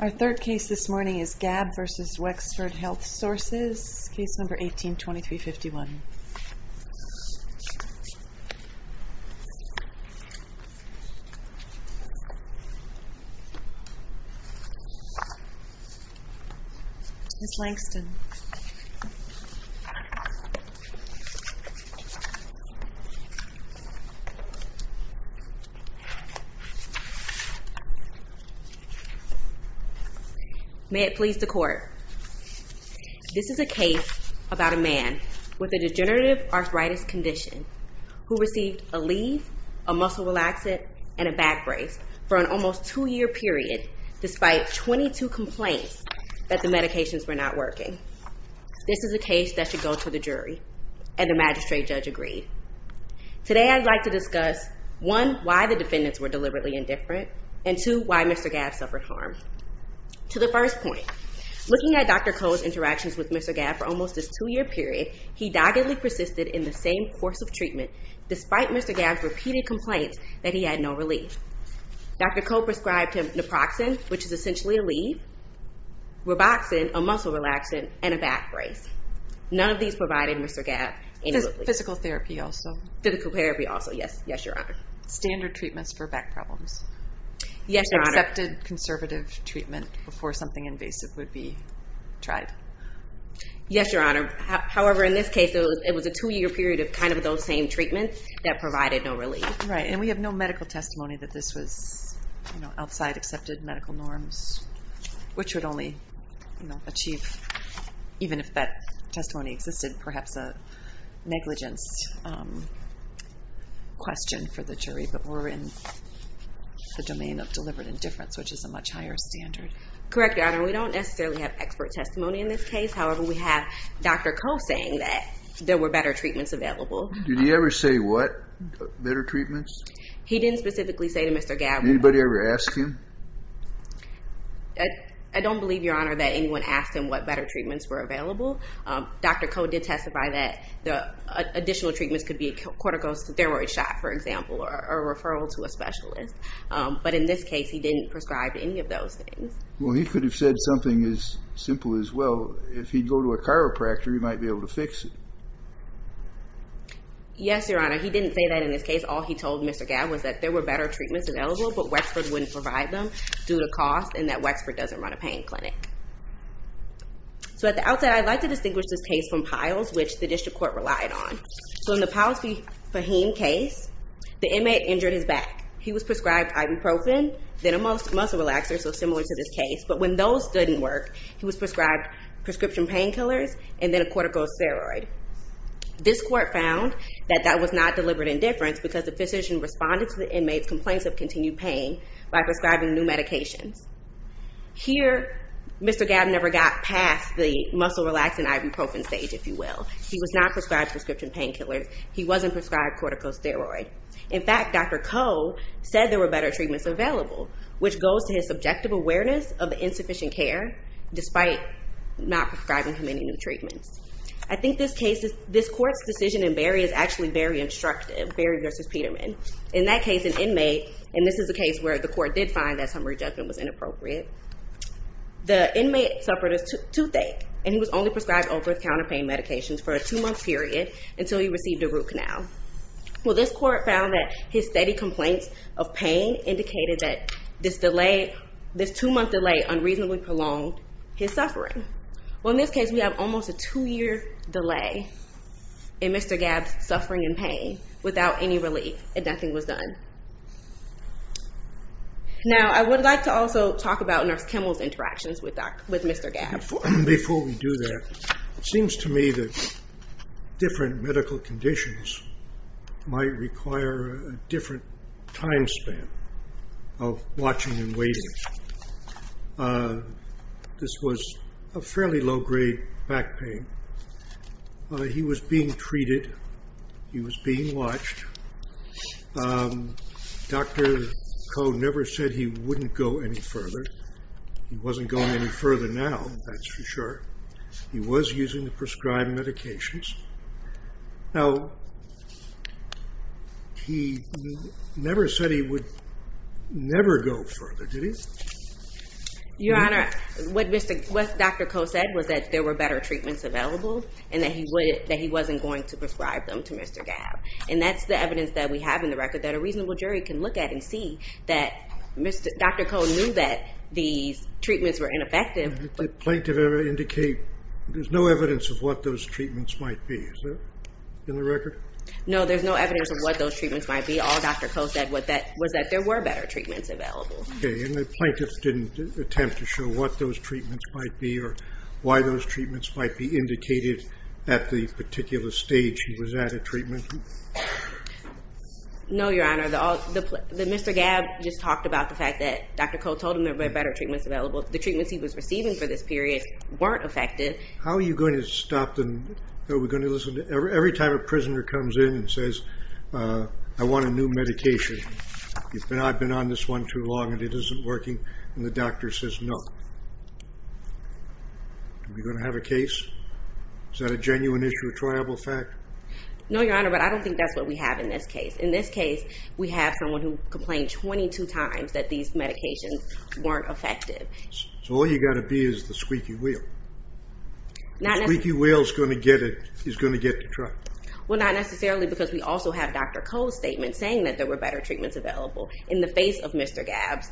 Our third case this morning is Gabb v. Wexford Health Sources, Case No. 18-2351. Ms. Langston, may it please the court. This is a case about a man with a degenerative arthritis condition who received a leave, a muscle relaxant, and a back brace for an almost two-year period despite 22 complaints that the medications were not working. This is a case that should go to the jury, and the magistrate judge agreed. Today I'd like to discuss, one, why the defendants were deliberately indifferent, and two, why Mr. Gabb suffered harm. To the first point, looking at Dr. Koh's interactions with Mr. Gabb for almost his two-year period, he doggedly persisted in the same course of treatment despite Mr. Gabb's repeated complaints that he had no relief. Dr. Koh prescribed him naproxen, which is essentially a leave, Roboxen, a muscle relaxant, and a back brace. None of these provided Mr. Gabb any relief. Physical therapy also. Physical therapy also, yes. Yes, Your Honor. Standard treatments for back problems. Yes, Your Honor. Excepted conservative treatment before something invasive would be tried. Yes, Your Honor. However, in this case, it was a two-year period of kind of those same treatments that provided no relief. Right, and we have no medical testimony that this was outside accepted medical norms, which would only achieve, even if that testimony existed, perhaps a negligence question for the jury. But we're in the domain of deliberate indifference, which is a much higher standard. Correct, Your Honor. We don't necessarily have expert testimony in this case. However, we have Dr. Koh saying that there were better treatments available. Did he ever say what better treatments? He didn't specifically say to Mr. Gabb. Did anybody ever ask him? I don't believe, Your Honor, that anyone asked him what better treatments were available. Dr. Koh did testify that the additional treatments could be a corticosteroid shot, for example, or a referral to a specialist. But in this case, he didn't prescribe any of those things. Well, he could have said something as simple as, well, if he'd go to a chiropractor, he might be able to fix it. Yes, Your Honor. He didn't say that in this case. All he told Mr. Gabb was that there were better treatments available, but Wexford wouldn't provide them due to cost and that Wexford doesn't run a pain clinic. So at the outset, I'd like to distinguish this case from Piles, which the district court relied on. So in the Piles v. Fahim case, the inmate injured his back. He was prescribed ibuprofen, then a muscle relaxer, so similar to this case. But when those didn't work, he was prescribed prescription painkillers and then a corticosteroid. This court found that that was not deliberate indifference because the physician responded to the inmate's complaints of continued pain by prescribing new medications. Here, Mr. Gabb never got past the muscle relaxer and ibuprofen stage, if you will. He was not prescribed prescription painkillers. He wasn't prescribed corticosteroid. In fact, Dr. Koh said there were better treatments available, which goes to his subjective awareness of insufficient care, despite not prescribing him any new treatments. I think this court's decision in Berry is actually very instructive, Berry v. Peterman. In that case, an inmate—and this is a case where the court did find that summary judgment was inappropriate—the inmate suffered a toothache, and he was only prescribed Oprith counterpain medications for a two-month period until he received a root canal. Well, this court found that his steady complaints of pain indicated that this two-month delay unreasonably prolonged his suffering. Well, in this case, we have almost a two-year delay in Mr. Gabb's suffering and pain without any relief, and nothing was done. Now, I would like to also talk about Nurse Kimmel's interactions with Mr. Gabb. Before we do that, it seems to me that different medical conditions might require a different time span of watching and waiting. This was a fairly low-grade back pain. He was being treated. He was being watched. Dr. Koh never said he wouldn't go any further. He wasn't going any further now, that's for sure. He was using the prescribed medications. Now, he never said he would never go further, did he? Your Honor, what Dr. Koh said was that there were better treatments available and that he wasn't going to prescribe them to Mr. Gabb. And that's the evidence that we have in the record that a reasonable jury can look at and see that Dr. Koh knew that these treatments were ineffective. Did the plaintiff ever indicate there's no evidence of what those treatments might be? Is that in the record? No, there's no evidence of what those treatments might be. All Dr. Koh said was that there were better treatments available. Okay. And the plaintiff didn't attempt to show what those treatments might be or why those treatments might be indicated at the particular stage he was at a treatment? No, Your Honor. Mr. Gabb just talked about the fact that Dr. Koh told him there were better treatments available. The treatments he was receiving for this period weren't effective. How are you going to stop them? Every time a prisoner comes in and says, I want a new medication, I've been on this one too long and it isn't working, and the doctor says no. Are we going to have a case? Is that a genuine issue, a triable fact? No, Your Honor, but I don't think that's what we have in this case. In this case, we have someone who complained 22 times that these medications weren't effective. So all you've got to be is the squeaky wheel. The squeaky wheel is going to get the truck. Well, not necessarily because we also have Dr. Koh's statement saying that there were better treatments available in the face of Mr. Gabb's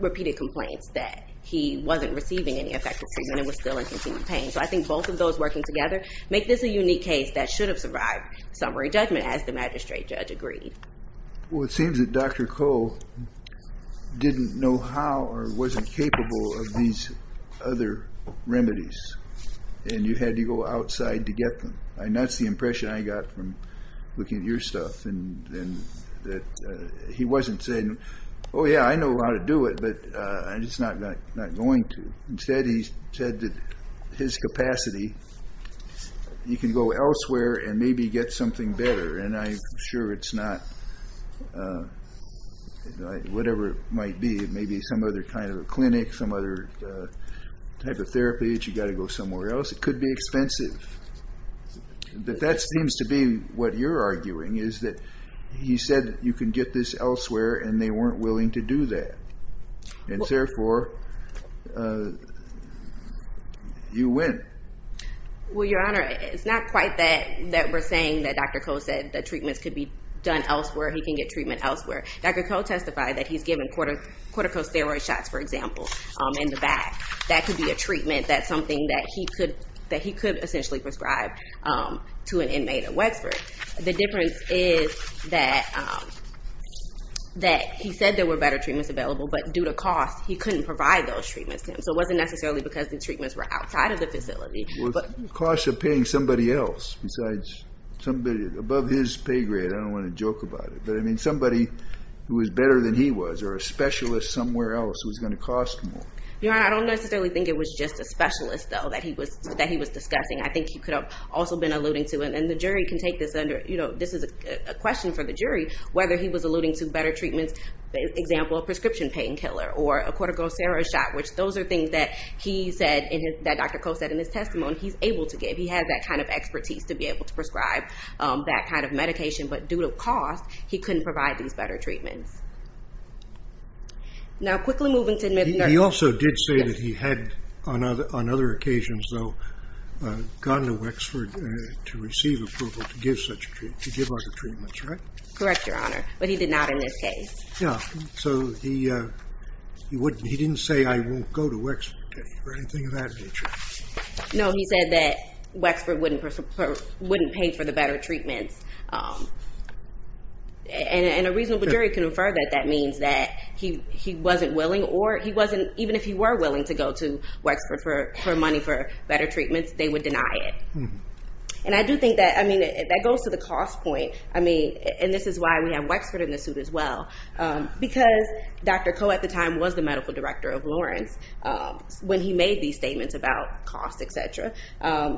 repeated complaints that he wasn't receiving any effective treatment and was still in continued pain. So I think both of those working together make this a unique case that should have survived summary judgment, as the magistrate judge agreed. Well, it seems that Dr. Koh didn't know how or wasn't capable of these other remedies, and you had to go outside to get them. And that's the impression I got from looking at your stuff, and that he wasn't saying, oh, yeah, I know how to do it, but I'm just not going to. Instead, he said that his capacity, you can go elsewhere and maybe get something better, and I'm sure it's not whatever it might be. It may be some other kind of a clinic, some other type of therapy that you've got to go somewhere else. It could be expensive. But that seems to be what you're arguing, is that he said you can get this elsewhere, and they weren't willing to do that. And therefore, you win. Well, Your Honor, it's not quite that we're saying that Dr. Koh said that treatments could be done elsewhere, he can get treatment elsewhere. Dr. Koh testified that he's given corticosteroid shots, for example, in the back. That could be a treatment, that's something that he could essentially prescribe to an inmate at Wexford. The difference is that he said there were better treatments available, but due to cost, he couldn't provide those treatments to him. So it wasn't necessarily because the treatments were outside of the facility. Was the cost of paying somebody else besides somebody above his pay grade? I don't want to joke about it, but I mean somebody who was better than he was, or a specialist somewhere else who was going to cost more. Your Honor, I don't necessarily think it was just a specialist, though, that he was discussing. I think he could have also been alluding to, and the jury can take this under, you know, this is a question for the jury, whether he was alluding to better treatments, for example, a prescription painkiller or a corticosteroid shot, which those are things that he said, that Dr. Koh said in his testimony, he's able to give. He has that kind of expertise to be able to prescribe that kind of medication, but due to cost, he couldn't provide these better treatments. Now, quickly moving to McNerney. He also did say that he had, on other occasions, though, gone to Wexford to receive approval to give other treatments, right? Correct, Your Honor, but he did not in this case. Yeah, so he didn't say, I won't go to Wexford or anything of that nature. No, he said that Wexford wouldn't pay for the better treatments. And a reasonable jury can infer that that means that he wasn't willing or he wasn't, even if he were willing to go to Wexford for money for better treatments, they would deny it. And I do think that, I mean, that goes to the cost point. I mean, and this is why we have Wexford in the suit as well, because Dr. Koh at the time was the medical director of Lawrence, when he made these statements about cost, et cetera.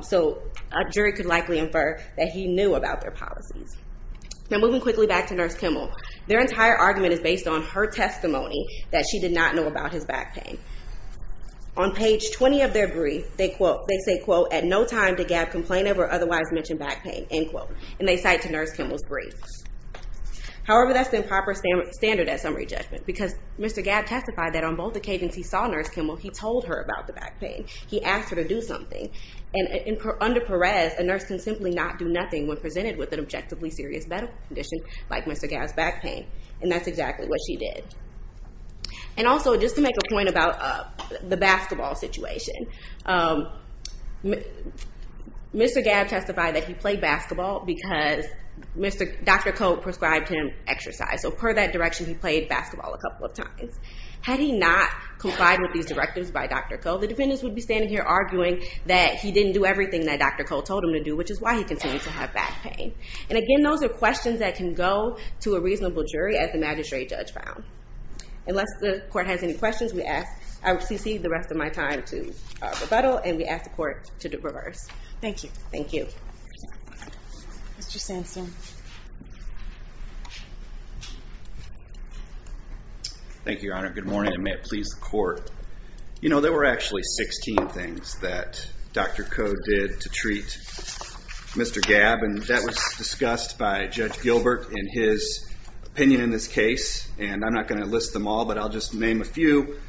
So a jury could likely infer that he knew about their policies. Now, moving quickly back to Nurse Kimmel. Their entire argument is based on her testimony that she did not know about his back pain. On page 20 of their brief, they say, quote, at no time did Gabb complain of or otherwise mention back pain, end quote. And they cite to Nurse Kimmel's brief. However, that's the improper standard at summary judgment, because Mr. Gabb testified that on both occasions he saw Nurse Kimmel, he told her about the back pain. He asked her to do something. And under Perez, a nurse can simply not do nothing when presented with an objectively serious medical condition like Mr. Gabb's back pain. And that's exactly what she did. And also, just to make a point about the basketball situation, Mr. Gabb testified that he played basketball because Dr. Koh prescribed him exercise. So per that direction, he played basketball a couple of times. Had he not complied with these directives by Dr. Koh, the defendants would be standing here arguing that he didn't do everything that Dr. Koh told him to do, which is why he continued to have back pain. And again, those are questions that can go to a reasonable jury as the magistrate judge found. Unless the court has any questions, we ask, I will cede the rest of my time to rebuttal, and we ask the court to do reverse. Thank you. Thank you. Mr. Sandstein. Thank you, Your Honor. Good morning, and may it please the court. You know, there were actually 16 things that Dr. Koh did to treat Mr. Gabb, and that was discussed by Judge Gilbert in his opinion in this case, and I'm not going to list them all, but I'll just name a few.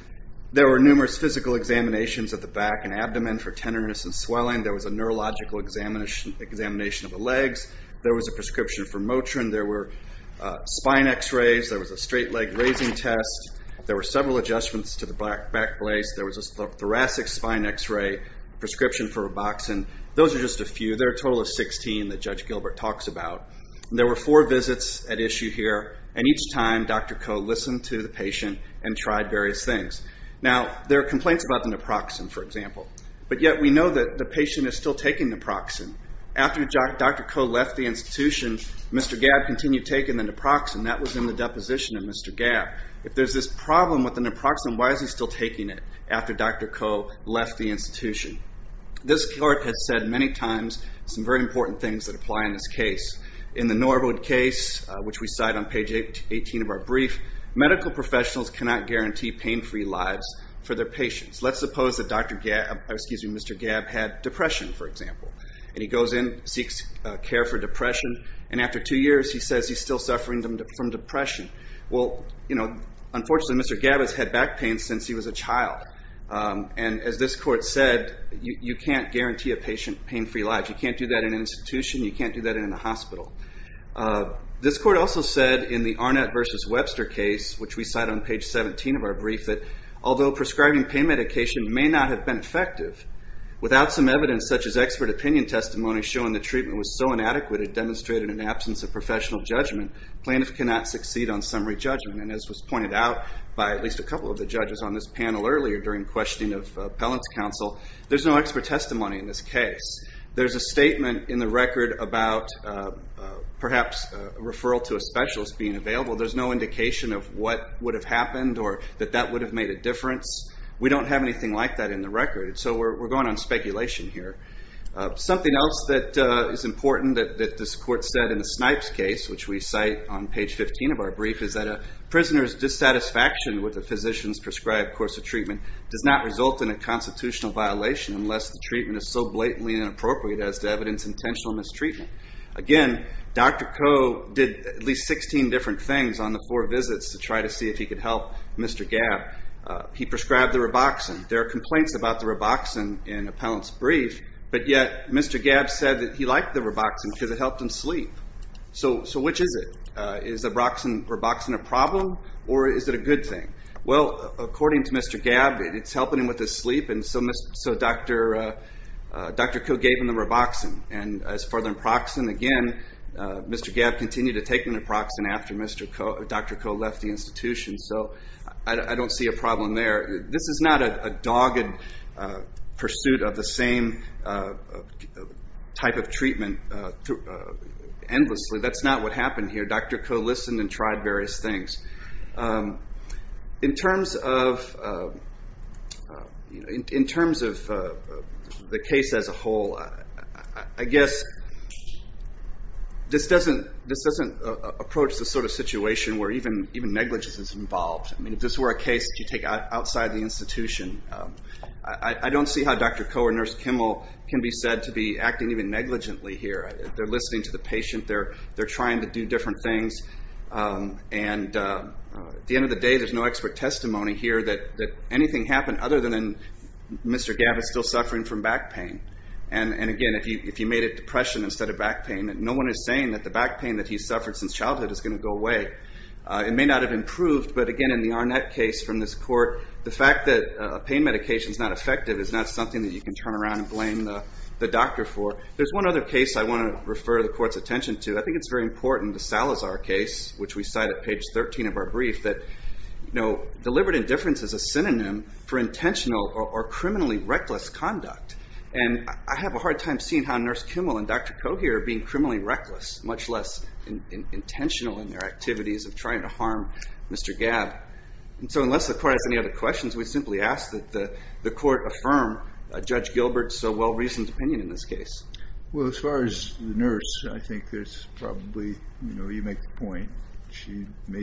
There were numerous physical examinations of the back and abdomen for tenderness and swelling. There was a neurological examination of the legs. There was a prescription for Motrin. There were spine X-rays. There was a straight leg raising test. There were several adjustments to the back brace. There was a thoracic spine X-ray, prescription for Roboxin. Those are just a few. There are a total of 16 that Judge Gilbert talks about. There were four visits at issue here, and each time Dr. Koh listened to the patient and tried various things. Now, there are complaints about the naproxen, for example, but yet we know that the patient is still taking naproxen. After Dr. Koh left the institution, Mr. Gabb continued taking the naproxen. That was in the deposition of Mr. Gabb. If there's this problem with the naproxen, why is he still taking it after Dr. Koh left the institution? This court has said many times some very important things that apply in this case. In the Norwood case, which we cite on page 18 of our brief, medical professionals cannot guarantee pain-free lives for their patients. Let's suppose that Mr. Gabb had depression, for example, and he goes in, seeks care for depression, and after two years he says he's still suffering from depression. Well, unfortunately, Mr. Gabb has had back pain since he was a child, and as this court said, you can't guarantee a patient pain-free lives. You can't do that in an institution. You can't do that in a hospital. This court also said in the Arnett v. Webster case, which we cite on page 17 of our brief, that although prescribing pain medication may not have been effective, without some evidence such as expert opinion testimony showing the treatment was so inadequate it demonstrated an absence of professional judgment, plaintiffs cannot succeed on summary judgment. As was pointed out by at least a couple of the judges on this panel earlier during questioning of appellant's counsel, there's no expert testimony in this case. There's a statement in the record about perhaps a referral to a specialist being available. There's no indication of what would have happened or that that would have made a difference. We don't have anything like that in the record, so we're going on speculation here. Something else that is important that this court said in the Snipes case, which we cite on page 15 of our brief, is that a prisoner's dissatisfaction with the physician's prescribed course of treatment does not result in a constitutional violation unless the treatment is so blatantly inappropriate as to evidence intentional mistreatment. Again, Dr. Koh did at least 16 different things on the four visits to try to see if he could help Mr. Gabb. He prescribed the Roboxin. There are complaints about the Roboxin in appellant's brief, but yet Mr. Gabb said that he liked the Roboxin because it helped him sleep. So which is it? Is the Roboxin a problem or is it a good thing? Well, according to Mr. Gabb, it's helping him with his sleep, and so Dr. Koh gave him the Roboxin. And as for the Naproxen, again, Mr. Gabb continued to take the Naproxen after Dr. Koh left the institution. So I don't see a problem there. This is not a dogged pursuit of the same type of treatment endlessly. That's not what happened here. Dr. Koh listened and tried various things. In terms of the case as a whole, I guess this doesn't approach the sort of situation where even negligence is involved. I mean, if this were a case that you take outside the institution, I don't see how Dr. Koh or Nurse Kimmel can be said to be acting even negligently here. They're listening to the patient. They're trying to do different things. And at the end of the day, there's no expert testimony here that anything happened other than Mr. Gabb is still suffering from back pain. And, again, if you made it depression instead of back pain, no one is saying that the back pain that he suffered since childhood is going to go away. It may not have improved, but, again, in the Arnett case from this court, the fact that a pain medication is not effective is not something that you can turn around and blame the doctor for. There's one other case I want to refer the court's attention to. I think it's very important, the Salazar case, which we cite at page 13 of our brief, that deliberate indifference is a synonym for intentional or criminally reckless conduct. And I have a hard time seeing how Nurse Kimmel and Dr. Koh here are being criminally reckless, much less intentional in their activities of trying to harm Mr. Gabb. And so unless the court has any other questions, we simply ask that the court affirm Judge Gilbert's so well-reasoned opinion in this case. Well, as far as the nurse, I think there's probably, you know, you make the point, she may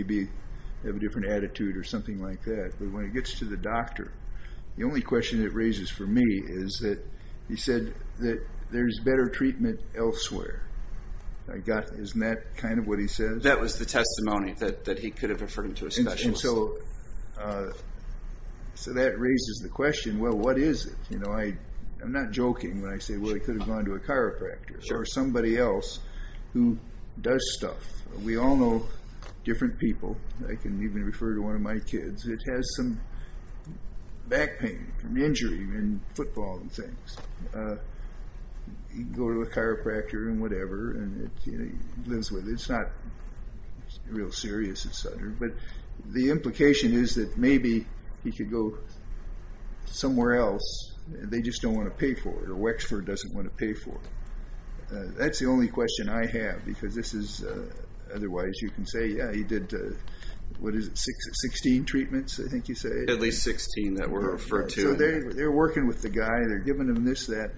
have a different attitude or something like that, but when it gets to the doctor, the only question it raises for me is that he said that there's better treatment elsewhere. Isn't that kind of what he says? That was the testimony that he could have referred him to a specialist. And so that raises the question, well, what is it? You know, I'm not joking when I say, well, he could have gone to a chiropractor or somebody else who does stuff. We all know different people. I can even refer to one of my kids. It has some back pain from injury in football and things. You can go to a chiropractor and whatever, and it lives with it. It's not real serious, et cetera. But the implication is that maybe he could go somewhere else. They just don't want to pay for it, or Wexford doesn't want to pay for it. That's the only question I have, because this is otherwise you can say, yeah, he did, what is it, 16 treatments, I think you said? At least 16 that were referred to. So they're working with the guy. They're giving him this, that.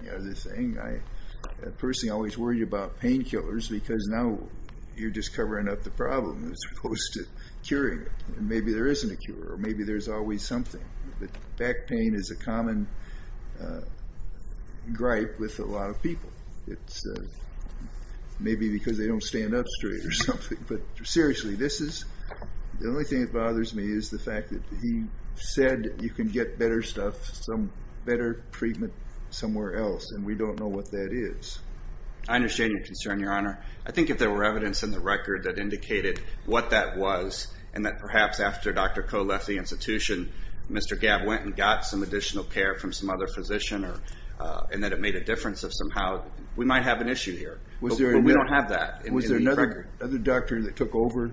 Personally, I always worry about painkillers because now you're just covering up the problem. As opposed to curing it. Maybe there isn't a cure, or maybe there's always something. But back pain is a common gripe with a lot of people. It's maybe because they don't stand up straight or something. But seriously, the only thing that bothers me is the fact that he said you can get better stuff, some better treatment somewhere else, and we don't know what that is. I understand your concern, Your Honor. I think if there were evidence in the record that indicated what that was, and that perhaps after Dr. Koh left the institution, Mr. Gabb went and got some additional care from some other physician, and that it made a difference of somehow, we might have an issue here. But we don't have that. Was there another doctor that took over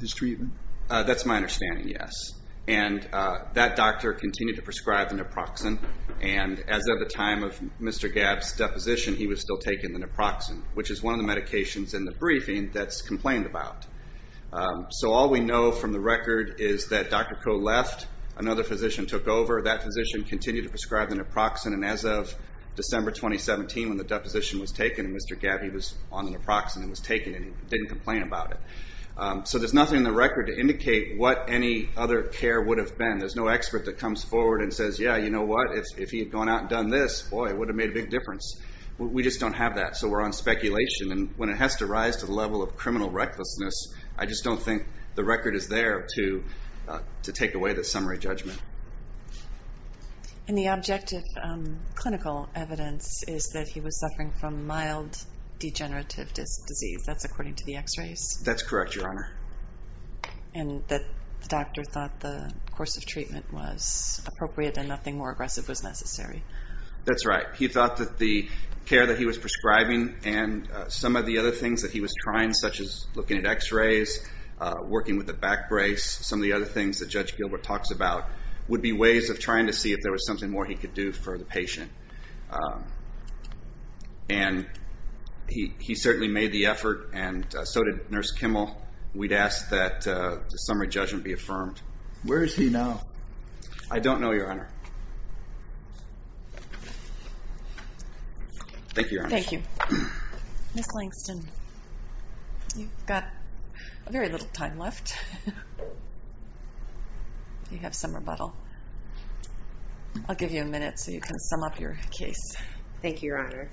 his treatment? That's my understanding, yes. And that doctor continued to prescribe the naproxen, and as of the time of Mr. Gabb's deposition, he was still taking the naproxen, which is one of the medications in the briefing that's complained about. So all we know from the record is that Dr. Koh left, another physician took over, that physician continued to prescribe the naproxen, and as of December 2017 when the deposition was taken, Mr. Gabb, he was on the naproxen and was taking it, and he didn't complain about it. So there's nothing in the record to indicate what any other care would have been. There's no expert that comes forward and says, yeah, you know what, if he had gone out and done this, boy, it would have made a big difference. We just don't have that, so we're on speculation. And when it has to rise to the level of criminal recklessness, I just don't think the record is there to take away the summary judgment. And the objective clinical evidence is that he was suffering from mild degenerative disease. That's according to the x-rays? That's correct, Your Honor. And the doctor thought the course of treatment was appropriate and nothing more aggressive was necessary? That's right. He thought that the care that he was prescribing and some of the other things that he was trying, such as looking at x-rays, working with the back brace, some of the other things that Judge Gilbert talks about would be ways of trying to see if there was something more he could do for the patient. And he certainly made the effort, and so did Nurse Kimmel. We'd ask that the summary judgment be affirmed. Where is he now? I don't know, Your Honor. Thank you, Your Honor. Thank you. Ms. Langston, you've got very little time left. You have some rebuttal. I'll give you a minute so you can sum up your case. Thank you, Your Honor.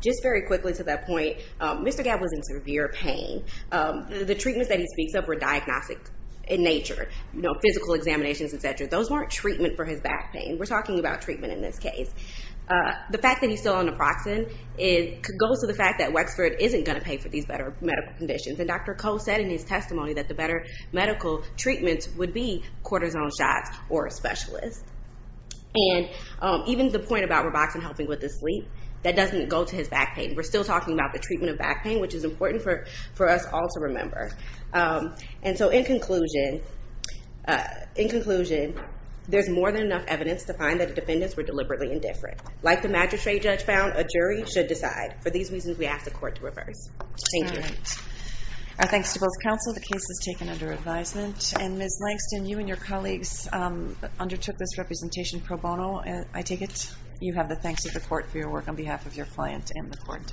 Just very quickly to that point, Mr. Gabb was in severe pain. The treatments that he speaks of were diagnostic in nature, physical examinations, et cetera. Those weren't treatment for his back pain. We're talking about treatment in this case. The fact that he's still on naproxen goes to the fact that Wexford isn't going to pay for these better medical conditions. And Dr. Koh said in his testimony that the better medical treatments would be cortisone shots or a specialist. And even the point about Roboxen helping with his sleep, that doesn't go to his back pain. We're still talking about the treatment of back pain, which is important for us all to remember. And so in conclusion, there's more than enough evidence to find that the defendants were deliberately indifferent. Like the magistrate judge found, a jury should decide. For these reasons, we ask the court to reverse. Thank you. All right. Our thanks to both counsel. The case was taken under advisement. And Ms. Langston, you and your colleagues undertook this representation pro bono, I take it? You have the thanks of the court for your work on behalf of your client and the court.